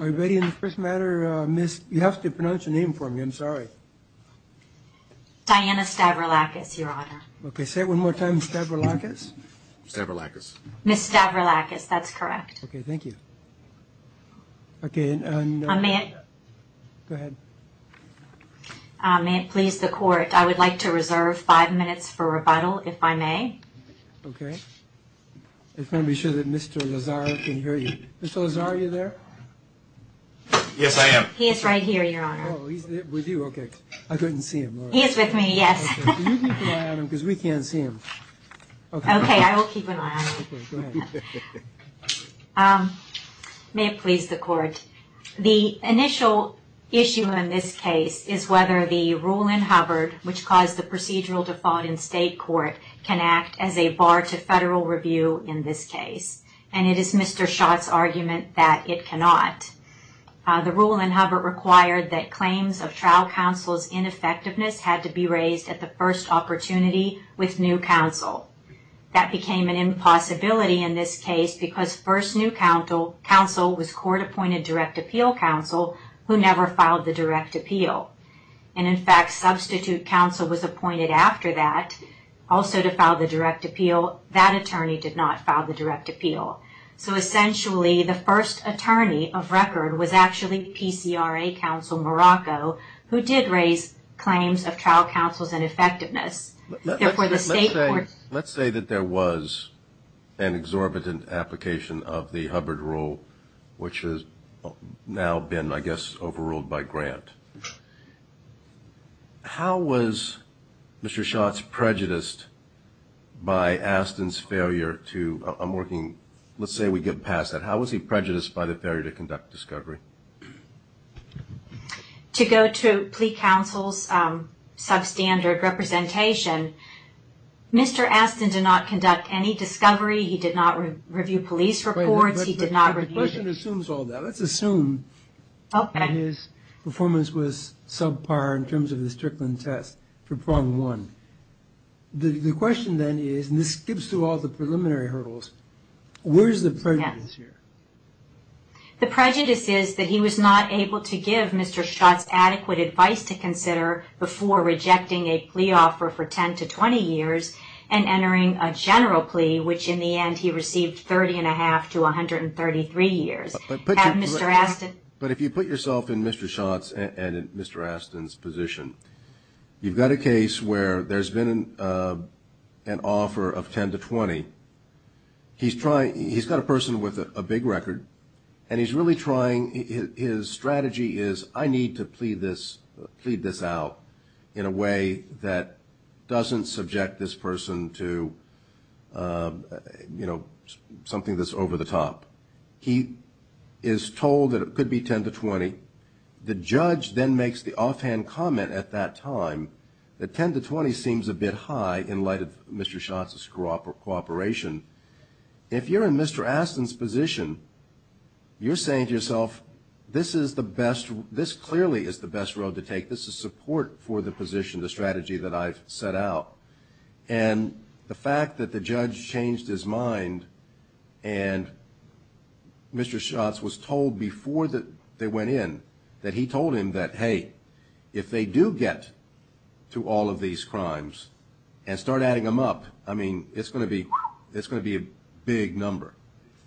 Are we ready in the first matter? Miss, you have to pronounce your name for me. I'm sorry. Diana Stavroulakis, Your Honor. Okay, say it one more time. Stavroulakis? Stavroulakis. Miss Stavroulakis, that's correct. Okay, thank you. Okay, and... May it... Go ahead. May it please the Court, I would like to reserve five minutes for rebuttal, if I may. Okay. I just want to be sure that Mr. Lazar can hear you. Mr. Lazar, are you there? Yes, I am. He is right here, Your Honor. Oh, he's with you? Okay. I couldn't see him. He is with me, yes. Okay, can you keep an eye on him, because we can't see him. Okay, I will keep an eye on him. Okay, go ahead. May it please the Court, the initial issue in this case is whether the rule in Hubbard, which caused the procedural default in state court, can act as a bar to federal review in this case. And it is Mr. Schott's argument that it cannot. The rule in Hubbard required that claims of trial counsel's ineffectiveness had to be raised at the first opportunity with new counsel. That became an impossibility in this case, because first new counsel was court-appointed direct appeal counsel, who never filed the direct appeal. And in fact, substitute counsel was appointed after that also to file the direct appeal. That attorney did not file the direct appeal. So essentially, the first attorney of record was actually PCRA counsel Morocco, who did raise claims of trial counsel's ineffectiveness. Therefore, the state court... Let's say that there was an exorbitant application of the Hubbard rule, which has now been, I guess, overruled by Grant. How was Mr. Schott's prejudiced by Astin's failure to... I'm working... Let's say we get past that. How was he prejudiced by the failure to conduct discovery? To go to plea counsel's substandard representation, Mr. Astin did not conduct any discovery. He did not review police reports. He did not review... The question assumes all that. Let's assume his performance was subpar in terms of the Strickland test for problem one. The question then is, and this skips through all the preliminary hurdles, where's the prejudice here? The prejudice is that he was not able to give Mr. Schott's adequate advice to consider before rejecting a plea offer for 10 to 20 years and entering a general plea, which in the end he received 30 1⁄2 to 133 years. Had Mr. Astin... But if you put yourself in Mr. Schott's and Mr. Astin's position, you've got a case where there's been an offer of 10 to 20. He's got a person with a big record, and he's really trying... His strategy is I need to plead this out in a way that doesn't subject this person to, you know, something that's over the top. He is told that it could be 10 to 20. The judge then makes the offhand comment at that time that 10 to 20 seems a bit high in light of Mr. Schott's cooperation. If you're in Mr. Astin's position, you're saying to yourself, this clearly is the best road to take. This is support for the position, the strategy that I've set out. And the fact that the judge changed his mind and Mr. Schott's was told before they went in that he told him that, hey, if they do get to all of these crimes and start adding them up, I mean, it's going to be a big number.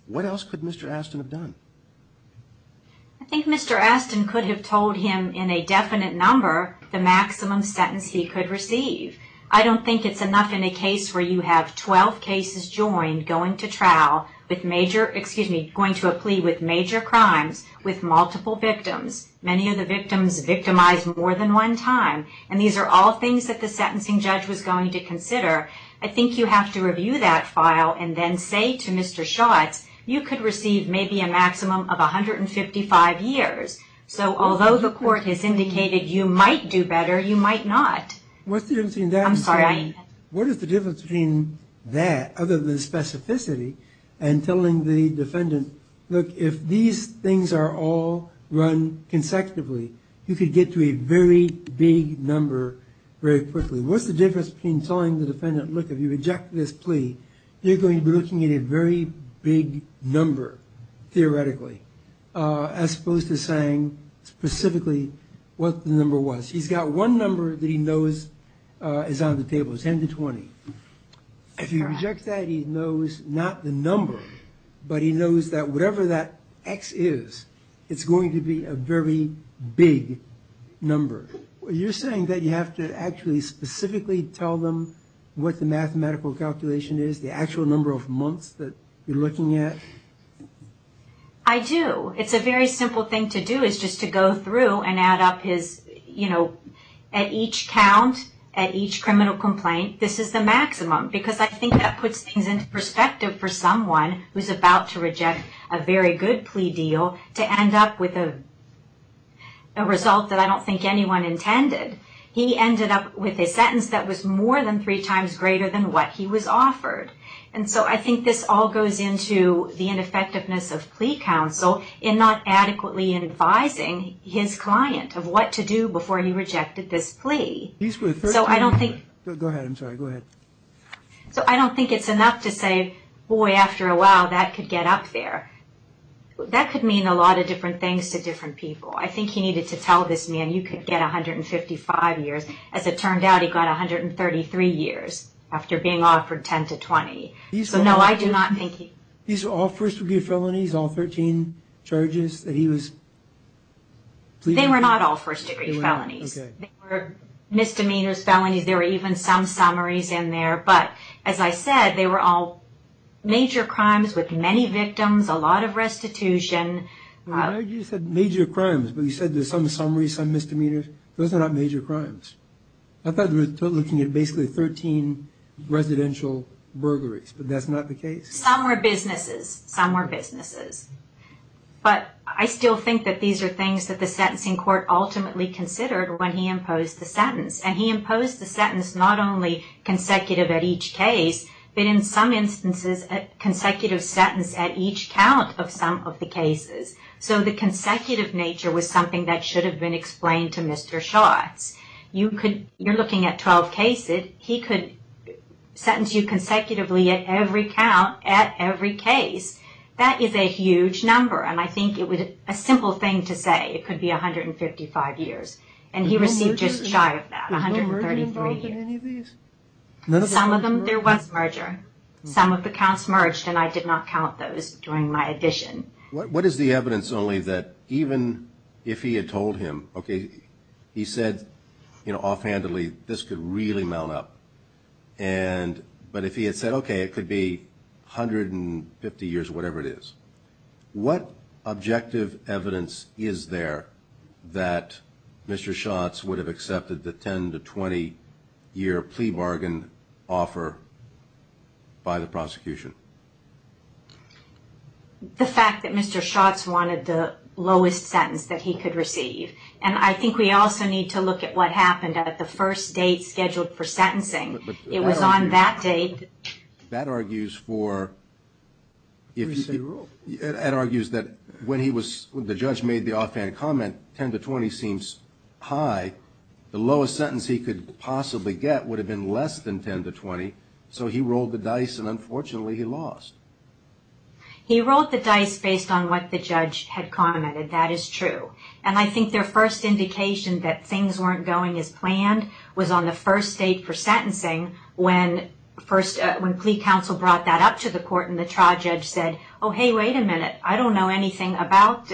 What else could Mr. Astin have done? I think Mr. Astin could have told him in a definite number the maximum sentence he could receive. I don't think it's enough in a case where you have 12 cases joined going to trial, going to a plea with major crimes with multiple victims. Many of the victims victimized more than one time, and these are all things that the sentencing judge was going to consider. I think you have to review that file and then say to Mr. Schott's, you could receive maybe a maximum of 155 years. So although the court has indicated you might do better, you might not. What's the difference between that other than specificity and telling the defendant, look, if these things are all run consecutively, you could get to a very big number very quickly. What's the difference between telling the defendant, look, if you reject this plea, you're going to be looking at a very big number, theoretically, as opposed to saying specifically what the number was. He's got one number that he knows is on the table, 10 to 20. If you reject that, he knows not the number, but he knows that whatever that X is, it's going to be a very big number. Well, you're saying that you have to actually specifically tell them what the mathematical calculation is, the actual number of months that you're looking at? I do. It's a very simple thing to do is just to go through and add up his, you know, at each count, at each criminal complaint, this is the maximum, because I think that puts things into perspective for someone who's about to reject a very good plea deal to end up with a result that I don't think anyone intended. He ended up with a sentence that was more than three times greater than what he was offered. And so I think this all goes into the ineffectiveness of plea counsel in not adequately advising his client of what to do before he rejected this plea. Go ahead. I'm sorry. Go ahead. So I don't think it's enough to say, boy, after a while, that could get up there. That could mean a lot of different things to different people. I think he needed to tell this man, you could get 155 years. As it turned out, he got 133 years after being offered 10 to 20. So, no, I do not think he... These were all first-degree felonies, all 13 charges that he was... They were not all first-degree felonies. They were misdemeanors, felonies, there were even some summaries in there. But, as I said, they were all major crimes with many victims, a lot of restitution. You said major crimes, but you said there's some summaries, some misdemeanors. Those are not major crimes. I thought they were looking at basically 13 residential burglaries, but that's not the case? Some were businesses. Some were businesses. But I still think that these are things that the sentencing court ultimately considered when he imposed the sentence. And he imposed the sentence not only consecutive at each case, but in some instances, a consecutive sentence at each count of some of the cases. So, the consecutive nature was something that should have been explained to Mr. Schatz. You're looking at 12 cases. He could sentence you consecutively at every count, at every case. That is a huge number, and I think it was a simple thing to say. It could be 155 years, and he received just shy of that. He received 133 years. Some of them, there was merger. Some of the counts merged, and I did not count those during my edition. What is the evidence only that even if he had told him, okay, he said, you know, offhandedly, this could really mount up, but if he had said, okay, it could be 150 years, whatever it is, what objective evidence is there that Mr. Schatz would have accepted the 10- to 20-year plea bargain offer by the prosecution? The fact that Mr. Schatz wanted the lowest sentence that he could receive. And I think we also need to look at what happened at the first date scheduled for sentencing. It was on that date. That argues that when the judge made the offhand comment, 10-20 seems high. The lowest sentence he could possibly get would have been less than 10-20, so he rolled the dice, and unfortunately, he lost. He rolled the dice based on what the judge had commented. That is true. And I think their first indication that things weren't going as planned was on the first date for sentencing when plea counsel brought that up to the court and the trial judge said, oh, hey, wait a minute. I don't know anything about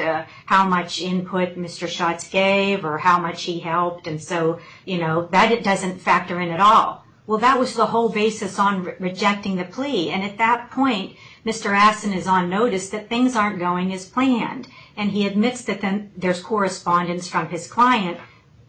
how much input Mr. Schatz gave or how much he helped, and so, you know, that doesn't factor in at all. Well, that was the whole basis on rejecting the plea, and at that point, Mr. Astin is on notice that things aren't going as planned, and he admits that there's correspondence from his client.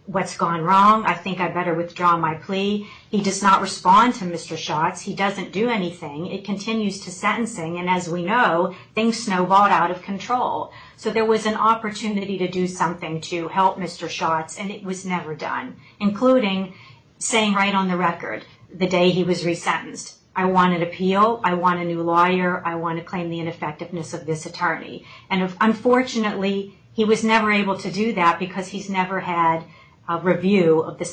What's gone wrong? I think I better withdraw my plea. He does not respond to Mr. Schatz. He doesn't do anything. It continues to sentencing, and as we know, things snowballed out of control, so there was an opportunity to do something to help Mr. Schatz, and it was never done, including saying right on the record the day he was resentenced, I want an appeal. I want a new lawyer. I want to claim the ineffectiveness of this attorney, and unfortunately, he was never able to do that because he's never had a review of the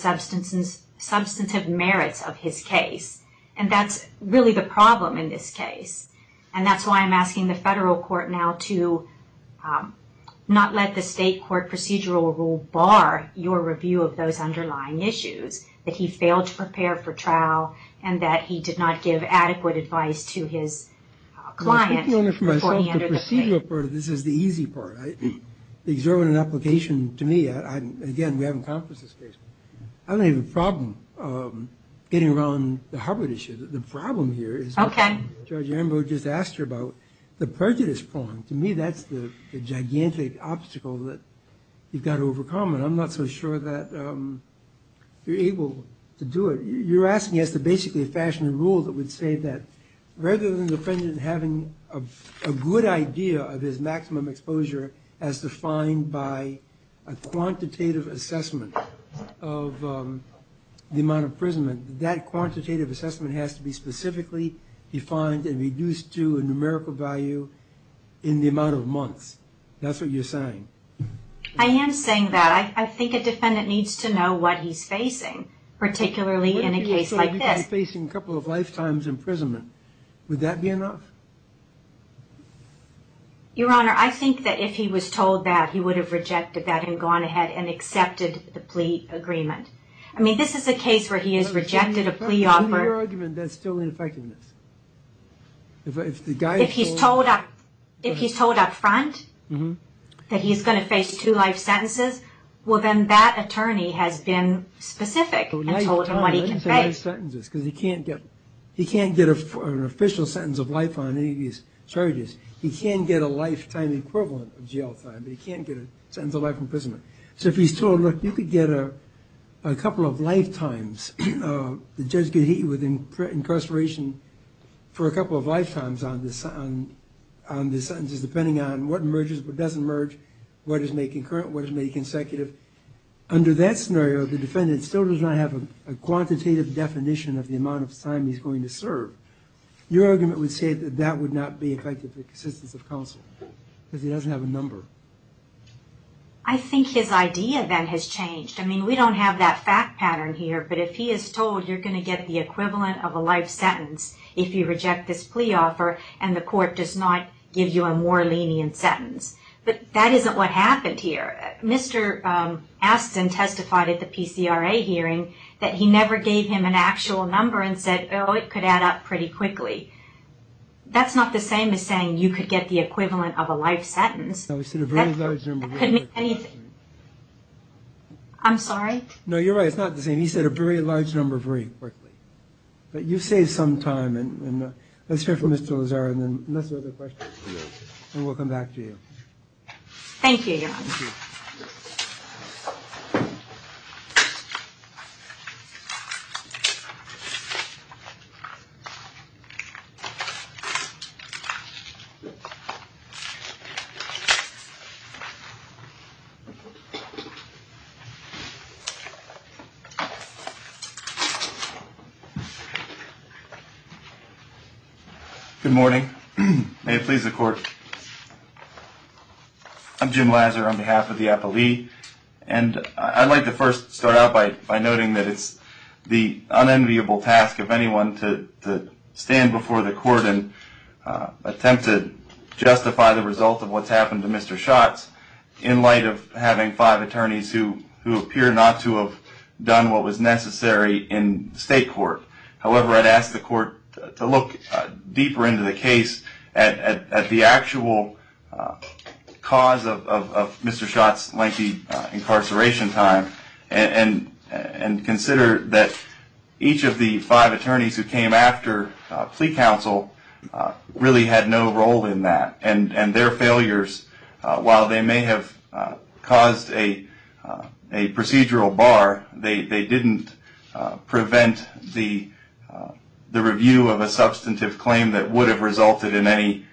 substantive merits of his case, and that's really the problem in this case, and that's why I'm asking the federal court now to not let the state court procedural rule bar your review of those underlying issues, that he failed to prepare for trial and that he did not give adequate advice to his client before he entered the plea. The procedural part of this is the easy part. Exerting an application to me, again, we haven't conferenced this case. I don't have a problem getting around the Harvard issue. The problem here is what Judge Ambrose just asked you about, the prejudice prong. To me, that's the gigantic obstacle that you've got to overcome, and I'm not so sure that you're able to do it. You're asking us to basically fashion a rule that would say that rather than the defendant having a good idea of his maximum exposure as defined by a quantitative assessment of the amount of imprisonment, that quantitative assessment has to be specifically defined and reduced to a numerical value in the amount of months. That's what you're saying. I am saying that. I think a defendant needs to know what he's facing, particularly in a case like this. If he's facing a couple of lifetimes imprisonment, would that be enough? Your Honor, I think that if he was told that, he would have rejected that and gone ahead and accepted the plea agreement. I mean, this is a case where he has rejected a plea offer. To your argument, that's still ineffectiveness. If he's told up front that he's going to face two life sentences, well then that attorney has been specific and told him what he can face. He can't get an official sentence of life on any of these charges. He can get a lifetime equivalent of jail time, but he can't get a sentence of life imprisonment. So if he's told, look, you could get a couple of lifetimes, the judge could hit you with incarceration for a couple of lifetimes on the sentences, depending on what emerges, what doesn't emerge, what is made concurrent, what is made consecutive. Under that scenario, the defendant still does not have a quantitative definition of the amount of time he's going to serve. Your argument would say that that would not be effective in the existence of counsel, because he doesn't have a number. I think his idea then has changed. I mean, we don't have that fact pattern here, but if he is told you're going to get the equivalent of a life sentence if you reject this plea offer and the court does not give you a more lenient sentence. But that isn't what happened here. Mr. Astin testified at the PCRA hearing that he never gave him an actual number and said, oh, it could add up pretty quickly. That's not the same as saying you could get the equivalent of a life sentence. No, he said a very large number very quickly. I'm sorry? No, you're right. It's not the same. He said a very large number very quickly. But you've saved some time. Let's hear from Mr. Lozarro and then let's do other questions and we'll come back to you. Thank you, Your Honor. Thank you. Thank you. Good morning. May it please the Court. I'm Jim Lozarro on behalf of the appellee. And I'd like to first start out by noting that it's the unenviable task of anyone to stand before the court and attempt to justify the result of what's happened to Mr. Schatz in light of having five attorneys who appear not to have done what was necessary in state court. However, I'd ask the court to look deeper into the case at the actual cause of Mr. Schatz's lengthy incarceration time and consider that each of the five attorneys who came after plea counsel really had no role in that. And their failures, while they may have caused a procedural bar, they didn't prevent the review of a substantive claim that would have resulted in any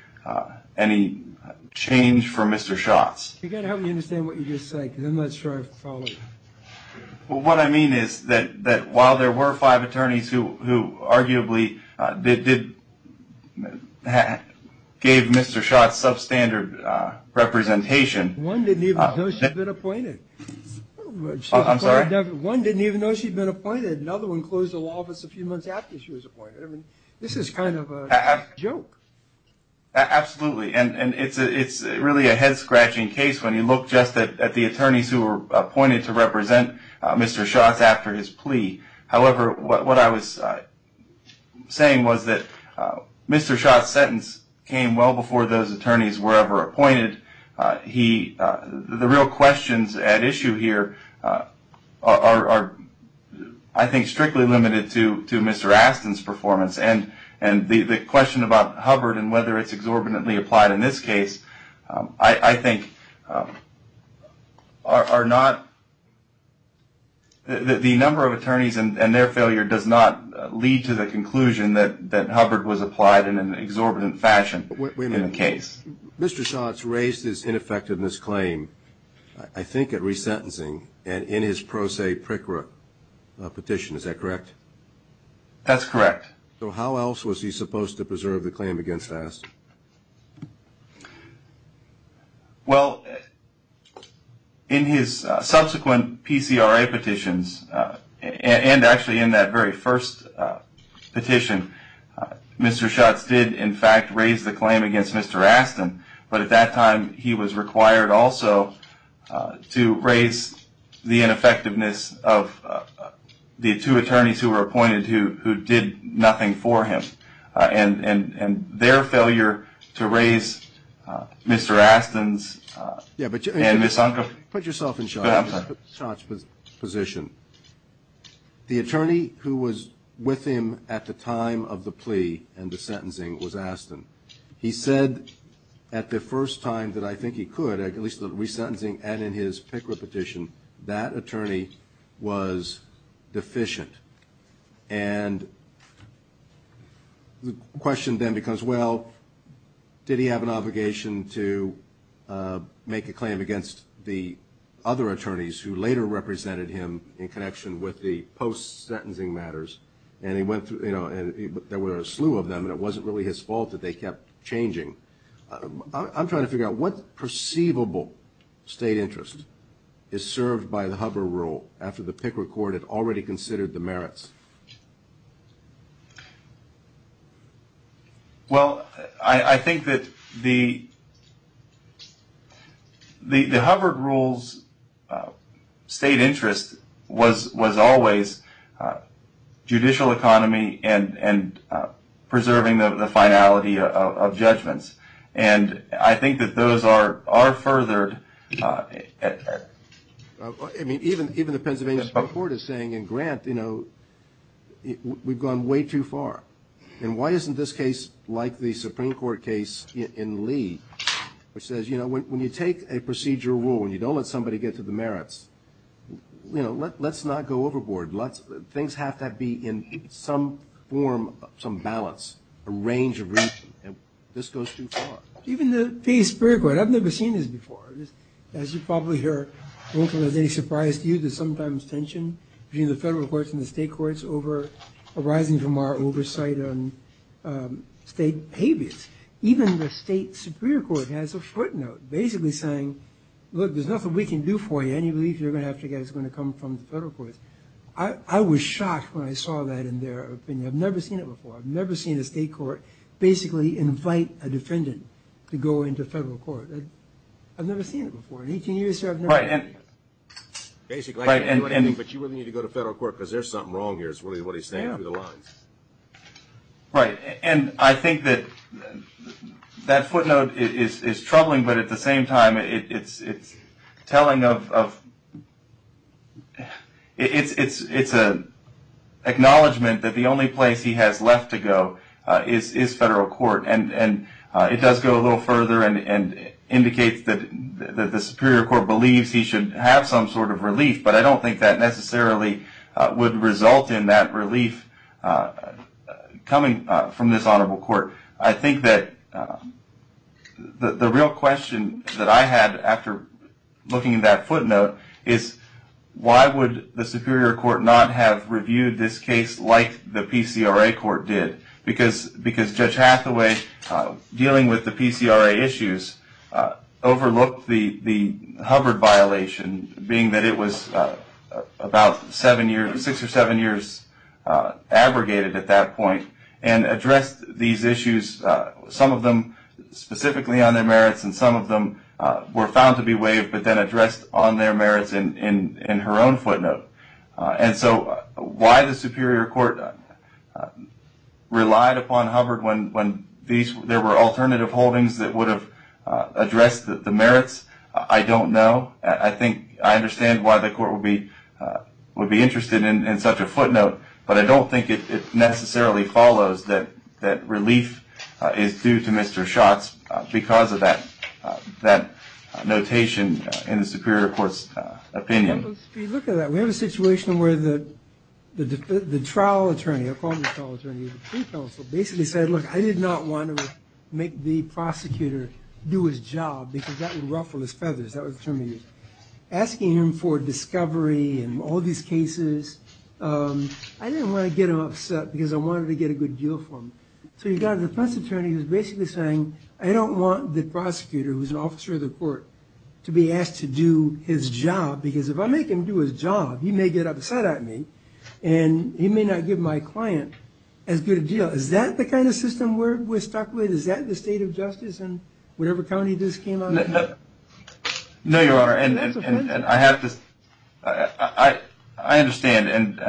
change for Mr. Schatz. You've got to help me understand what you just said because I'm not sure I followed. Well, what I mean is that while there were five attorneys who arguably gave Mr. Schatz substandard representation. One didn't even know she'd been appointed. I'm sorry? One didn't even know she'd been appointed. Another one closed the law office a few months after she was appointed. This is kind of a joke. Absolutely. And it's really a head-scratching case when you look just at the attorneys who were appointed to represent Mr. Schatz after his plea. However, what I was saying was that Mr. Schatz's sentence came well before those attorneys were ever appointed. The real questions at issue here are, I think, strictly limited to Mr. Astin's performance. And the question about Hubbard and whether it's exorbitantly applied in this case, I think, are not. The number of attorneys and their failure does not lead to the conclusion that Hubbard was applied in an exorbitant fashion in the case. Wait a minute. Mr. Schatz raised his ineffectiveness claim, I think, at resentencing in his pro se PRCRA petition. Is that correct? That's correct. So how else was he supposed to preserve the claim against Astin? Well, in his subsequent PCRA petitions, and actually in that very first petition, Mr. Schatz did, in fact, raise the claim against Mr. Astin. But at that time, he was required also to raise the ineffectiveness of the two attorneys who were appointed who did nothing for him. And their failure to raise Mr. Astin's and Ms. Unkoff's... Put yourself in Schatz's position. The attorney who was with him at the time of the plea and the sentencing was Astin. He said at the first time that I think he could, at least at resentencing and in his PCRA petition, that attorney was deficient. And the question then becomes, well, did he have an obligation to make a claim against the other attorneys who later represented him in connection with the post-sentencing matters? And there were a slew of them, and it wasn't really his fault that they kept changing. I'm trying to figure out what perceivable state interest is served by the Hubbard Rule after the Picker Court had already considered the merits. Well, I think that the Hubbard Rule's state interest was always judicial economy and preserving the finality of judgments. And I think that those are furthered. I mean, even the Pennsylvania Supreme Court is saying in Grant, you know, we've gone way too far. And why isn't this case like the Supreme Court case in Lee, which says, you know, when you take a procedural rule and you don't let somebody get to the merits, you know, let's not go overboard. Things have to be in some form, some balance, a range of reason, and this goes too far. Even the Pennsylvania Supreme Court, I've never seen this before. As you probably hear, I don't think it's any surprise to you, there's sometimes tension between the federal courts and the state courts arising from our oversight on state behavior. Even the state Supreme Court has a footnote basically saying, look, there's nothing we can do for you. Any relief you're going to have to get is going to come from the federal courts. I was shocked when I saw that in their opinion. I've never seen it before. I've never seen a state court basically invite a defendant to go into federal court. I've never seen it before. In 18 years here, I've never seen it. Basically, I can't do anything, but you really need to go to federal court because there's something wrong here is really what he's saying through the lines. Right. I think that footnote is troubling, but at the same time, it's acknowledgement that the only place he has left to go is federal court. It does go a little further and indicates that the Superior Court believes he should have some sort of relief, but I don't think that necessarily would result in that relief coming from this honorable court. I think that the real question that I had after looking at that footnote is, why would the Superior Court not have reviewed this case like the PCRA court did? Because Judge Hathaway, dealing with the PCRA issues, overlooked the Hubbard violation, being that it was about six or seven years abrogated at that point, and addressed these issues, some of them specifically on their merits and some of them were found to be waived, but then addressed on their merits in her own footnote. So why the Superior Court relied upon Hubbard when there were alternative holdings that would have addressed the merits, I don't know. I think I understand why the court would be interested in such a footnote, but I don't think it necessarily follows that relief is due to Mr. Schatz because of that notation in the Superior Court's opinion. Look at that, we have a situation where the trial attorney, I'll call him the trial attorney, the pre-counsel basically said, look, I did not want to make the prosecutor do his job because that would ruffle his feathers, that would determine it. Asking him for discovery in all these cases, I didn't want to get him upset because I wanted to get a good deal for him. So you've got a defense attorney who's basically saying, I don't want the prosecutor, who's an officer of the court, to be asked to do his job because if I make him do his job, he may get upset at me and he may not give my client as good a deal. Is that the kind of system we're stuck with? Is that the state of justice in whatever county this came out of? No, Your Honor, and I have to, I understand and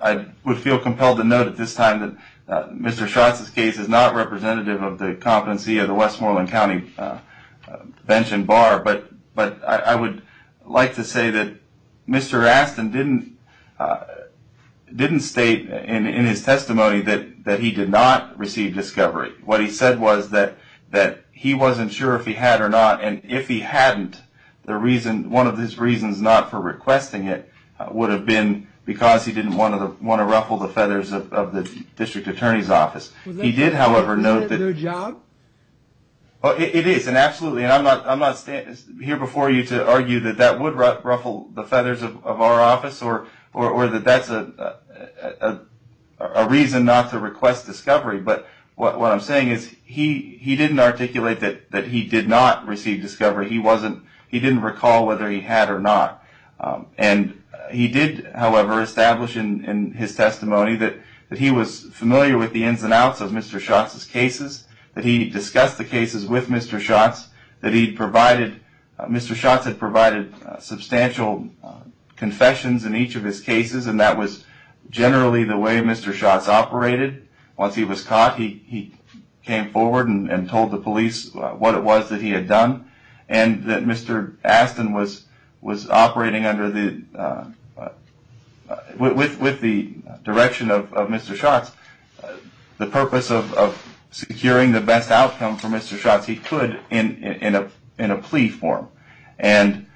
I would feel compelled to note at this time that Mr. Schatz's case is not representative of the competency of the Westmoreland County bench and bar, but I would like to say that Mr. Astin didn't state in his testimony that he did not receive discovery. What he said was that he wasn't sure if he had or not, and if he hadn't, one of his reasons not for requesting it would have been because he didn't want to ruffle the feathers of the district attorney's office. Was that their job? It is, and absolutely, and I'm not here before you to argue that that would ruffle the feathers of our office or that that's a reason not to request discovery, but what I'm saying is he didn't articulate that he did not receive discovery. He didn't recall whether he had or not, and he did, however, establish in his testimony that he was familiar with the ins and outs of Mr. Schatz's cases, that he discussed the cases with Mr. Schatz, that Mr. Schatz had provided substantial confessions in each of his cases, and that was generally the way Mr. Schatz operated. Once he was caught, he came forward and told the police what it was that he had done, and that Mr. Astin was operating under the, with the direction of Mr. Schatz, the purpose of securing the best outcome for Mr. Schatz he could in a plea form, and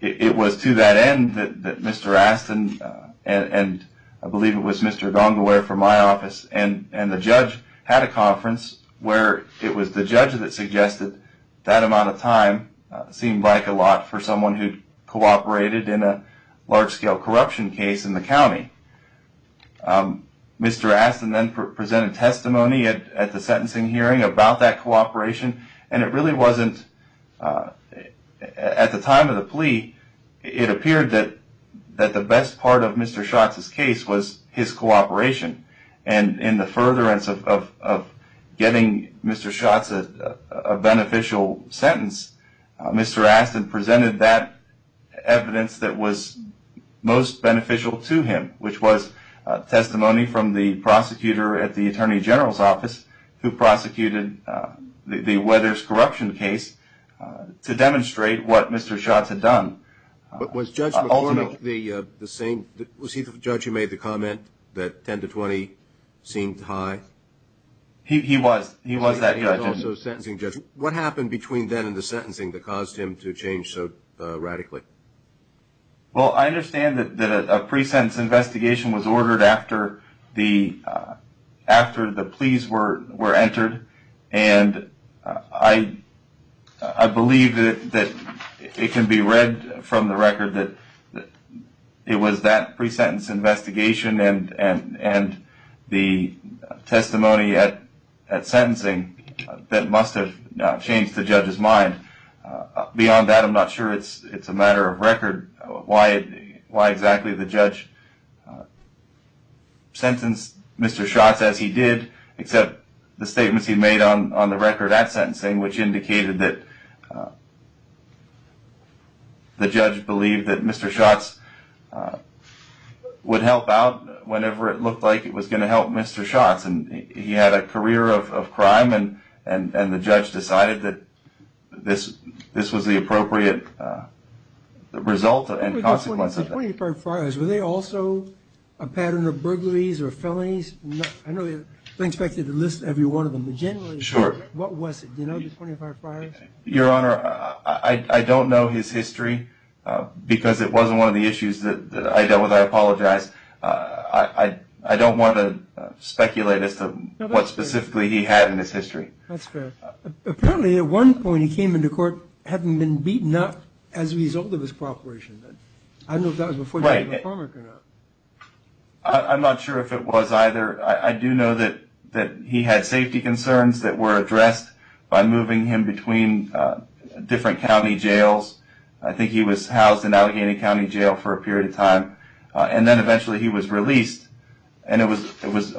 it was to that end that Mr. Astin, and I believe it was Mr. Dongleware from my office, and the judge had a conference where it was the judge that suggested that amount of time seemed like a lot for someone who cooperated in a large-scale corruption case in the county. Mr. Astin then presented testimony at the sentencing hearing about that cooperation, and it really wasn't, at the time of the plea, it appeared that the best part of Mr. Schatz's case was his cooperation, and in the furtherance of getting Mr. Schatz a beneficial sentence, Mr. Astin presented that evidence that was most beneficial to him, which was testimony from the prosecutor at the Attorney General's office who prosecuted the Weathers corruption case to demonstrate what Mr. Schatz had done. But was Judge McCormick the same, was he the judge who made the comment that 10 to 20 seemed high? He was, he was that judge. He was also a sentencing judge. What happened between then and the sentencing that caused him to change so radically? Well, I understand that a pre-sentence investigation was ordered after the pleas were entered, and I believe that it can be read from the record that it was that pre-sentence investigation and the testimony at sentencing that must have changed the judge's mind. Beyond that, I'm not sure it's a matter of record why exactly the judge sentenced Mr. Schatz as he did, except the statements he made on the record at sentencing, which indicated that the judge believed that Mr. Schatz would help out whenever it looked like it was going to help Mr. Schatz. And he had a career of crime, and the judge decided that this was the appropriate result and consequence of that. The 25 friars, were they also a pattern of burglaries or felonies? I know they're expected to list every one of them, but generally, what was it? Do you know the 25 friars? Your Honor, I don't know his history because it wasn't one of the issues that I dealt with, I apologize. I don't want to speculate as to what specifically he had in his history. That's fair. Apparently at one point he came into court having been beaten up as a result of his cooperation. I don't know if that was before that or not. I'm not sure if it was either. I do know that he had safety concerns that were addressed by moving him between different county jails. I think he was housed in Allegheny County Jail for a period of time, and then eventually he was released. And it was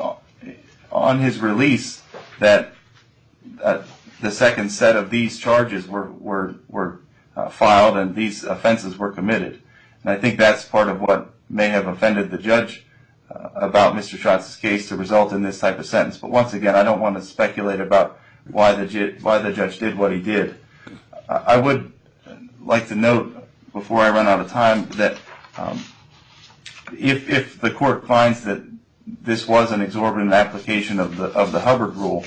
on his release that the second set of these charges were filed and these offenses were committed. And I think that's part of what may have offended the judge about Mr. Schatz's case to result in this type of sentence. But once again, I don't want to speculate about why the judge did what he did. I would like to note, before I run out of time, that if the court finds that this was an exorbitant application of the Hubbard rule,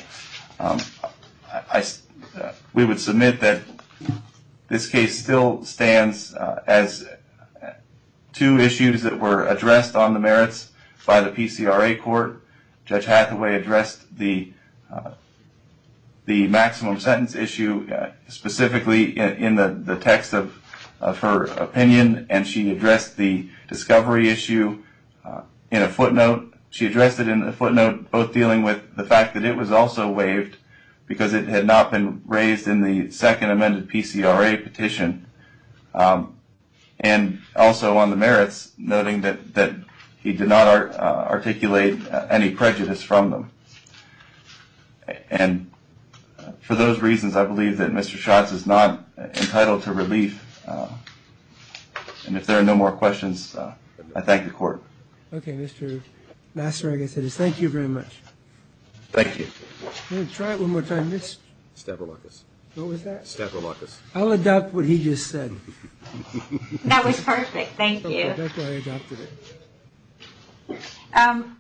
we would submit that this case still stands as two issues that were addressed on the merits by the PCRA court. Judge Hathaway addressed the maximum sentence issue specifically in the text of her opinion, and she addressed the discovery issue in a footnote. She addressed it in a footnote both dealing with the fact that it was also waived because it had not been raised in the second amended PCRA petition, and also on the merits, noting that he did not articulate any prejudice from them. And for those reasons, I believe that Mr. Schatz is not entitled to relief. And if there are no more questions, I thank the court. Okay, Mr. Nassaragas, thank you very much. Thank you. Try it one more time. What was that? I'll adopt what he just said. That was perfect. Thank you. I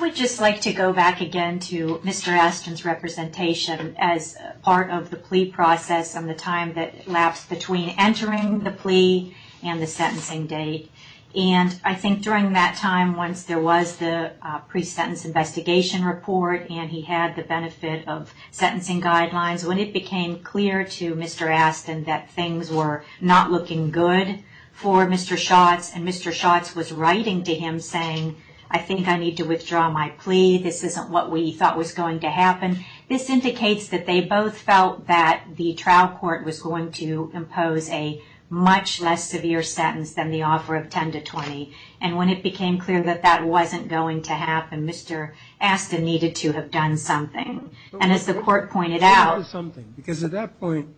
would just like to go back again to Mr. Astin's representation as part of the plea process and the time that lapsed between entering the plea and the sentencing date. And I think during that time, once there was the pre-sentence investigation report and he had the benefit of sentencing guidelines, when it became clear to Mr. Astin that things were not looking good for Mr. Schatz and Mr. Schatz was writing to him saying, I think I need to withdraw my plea, this isn't what we thought was going to happen, this indicates that they both felt that the trial court was going to impose a much less severe sentence than the offer of 10 to 20. And when it became clear that that wasn't going to happen, Mr. Astin needed to have done something. And as the court pointed out. Because at that point,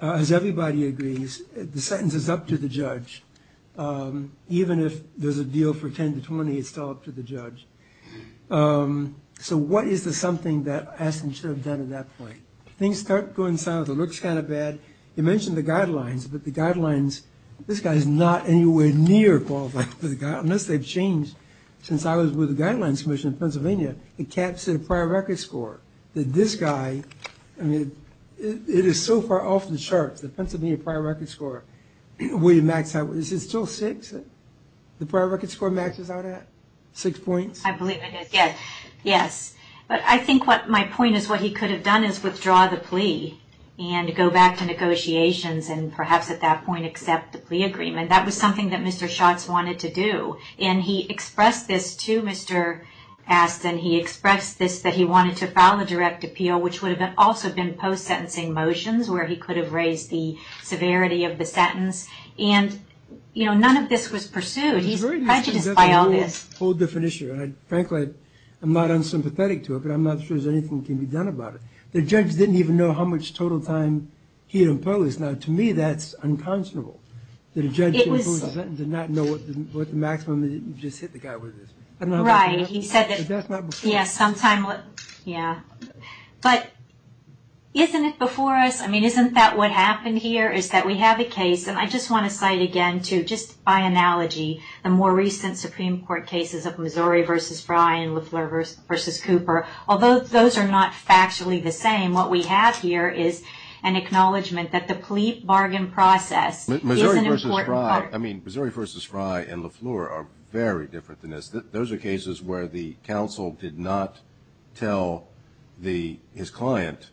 as everybody agrees, the sentence is up to the judge. Even if there's a deal for 10 to 20, it's still up to the judge. So what is the something that Astin should have done at that point? Things start going south, it looks kind of bad. You mentioned the guidelines, but the guidelines, this guy is not anywhere near qualified. Unless they've changed. Since I was with the Guidelines Commission in Pennsylvania, it caps the prior record score. This guy, I mean, it is so far off the charts, the Pennsylvania prior record score. Will you max out, is it still six? The prior record score maxes out at six points? I believe it is, yes. But I think what my point is, what he could have done is withdraw the plea and go back to negotiations and perhaps at that point accept the plea agreement. That was something that Mr. Schatz wanted to do. And he expressed this to Mr. Astin. He expressed this, that he wanted to file a direct appeal, which would have also been post-sentencing motions, where he could have raised the severity of the sentence. And, you know, none of this was pursued. He's prejudiced by all this. It's a whole different issue, and frankly, I'm not unsympathetic to it, but I'm not sure that anything can be done about it. The judge didn't even know how much total time he imposed. Now, to me, that's unconscionable, that a judge can impose a sentence and not know what the maximum is. You just hit the guy with it. Right, he said that, yes, sometime, yeah. But isn't it before us? I mean, isn't that what happened here, is that we have a case, and I just want to cite again, too, just by analogy, the more recent Supreme Court cases of Missouri v. Frye and LeFleur v. Cooper. Although those are not factually the same, what we have here is an acknowledgment that the plea bargain process is an important part. Missouri v. Frye, I mean, Missouri v. Frye and LeFleur are very different than this. Those are cases where the counsel did not tell his client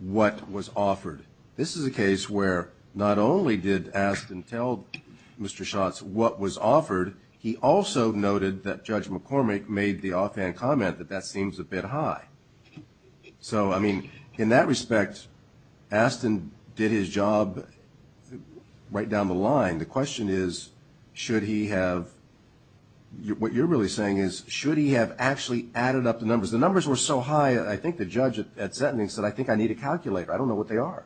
what was offered. This is a case where not only did Astin tell Mr. Schatz what was offered, he also noted that Judge McCormick made the offhand comment that that seems a bit high. So, I mean, in that respect, Astin did his job right down the line. The question is, should he have, what you're really saying is, should he have actually added up the numbers? The numbers were so high, I think the judge at Sentencing said, I think I need a calculator. I don't know what they are.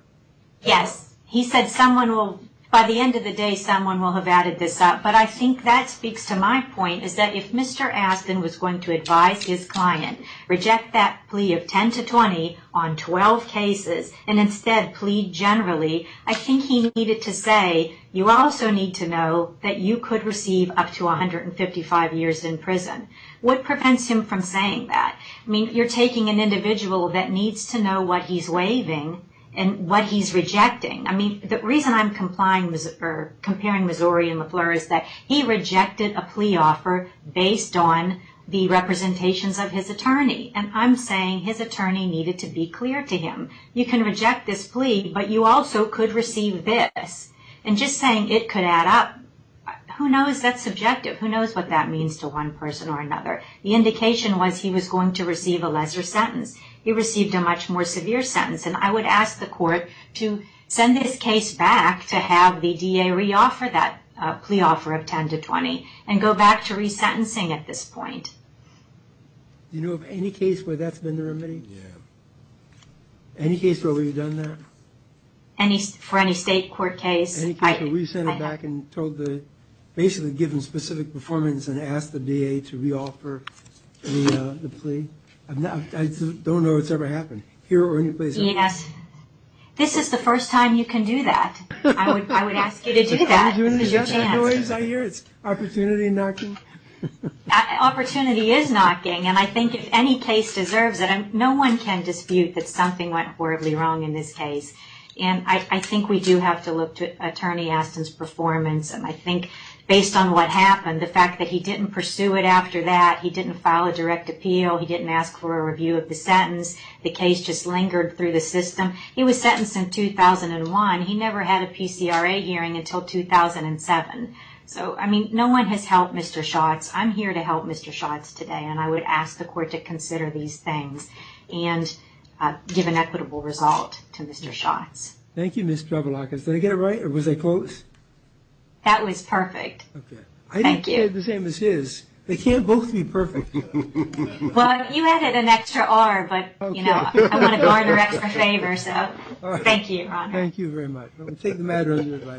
Yes. He said someone will, by the end of the day, someone will have added this up. But I think that speaks to my point, is that if Mr. Astin was going to advise his client, reject that plea of 10 to 20 on 12 cases, and instead plead generally, I think he needed to say, you also need to know that you could receive up to 155 years in prison. What prevents him from saying that? I mean, you're taking an individual that needs to know what he's waiving and what he's rejecting. I mean, the reason I'm comparing Missouri and LeFleur is that he rejected a plea offer based on the representations of his attorney. And I'm saying his attorney needed to be clear to him. You can reject this plea, but you also could receive this. And just saying it could add up, who knows? That's subjective. Who knows what that means to one person or another? The indication was he was going to receive a lesser sentence. He received a much more severe sentence. And I would ask the court to send this case back to have the DA reoffer that plea offer of 10 to 20 and go back to resentencing at this point. Do you know of any case where that's been the remedy? Yeah. Any case where we've done that? For any state court case? Any case where we sent it back and told the, basically given specific performance and asked the DA to reoffer the plea? I don't know it's ever happened. Here or any place else? Yes. This is the first time you can do that. I would ask you to do that. It's your chance. I hear it's opportunity knocking. Opportunity is knocking. And I think if any case deserves it, no one can dispute that something went horribly wrong in this case. And I think we do have to look to Attorney Aston's performance. And I think based on what happened, the fact that he didn't pursue it after that, he didn't file a direct appeal, he didn't ask for a review of the sentence, the case just lingered through the system. He was sentenced in 2001. He never had a PCRA hearing until 2007. So, I mean, no one has helped Mr. Schatz. I'm here to help Mr. Schatz today, and I would ask the court to consider these things and give an equitable result to Mr. Schatz. Thank you, Ms. Javulakis. Did I get it right or was I close? That was perfect. Okay. Thank you. I didn't get it the same as his. They can't both be perfect. Well, you added an extra R, but, you know, I want to bar their extra favor, so thank you, Your Honor. Thank you very much. We'll take the matter under your advisement.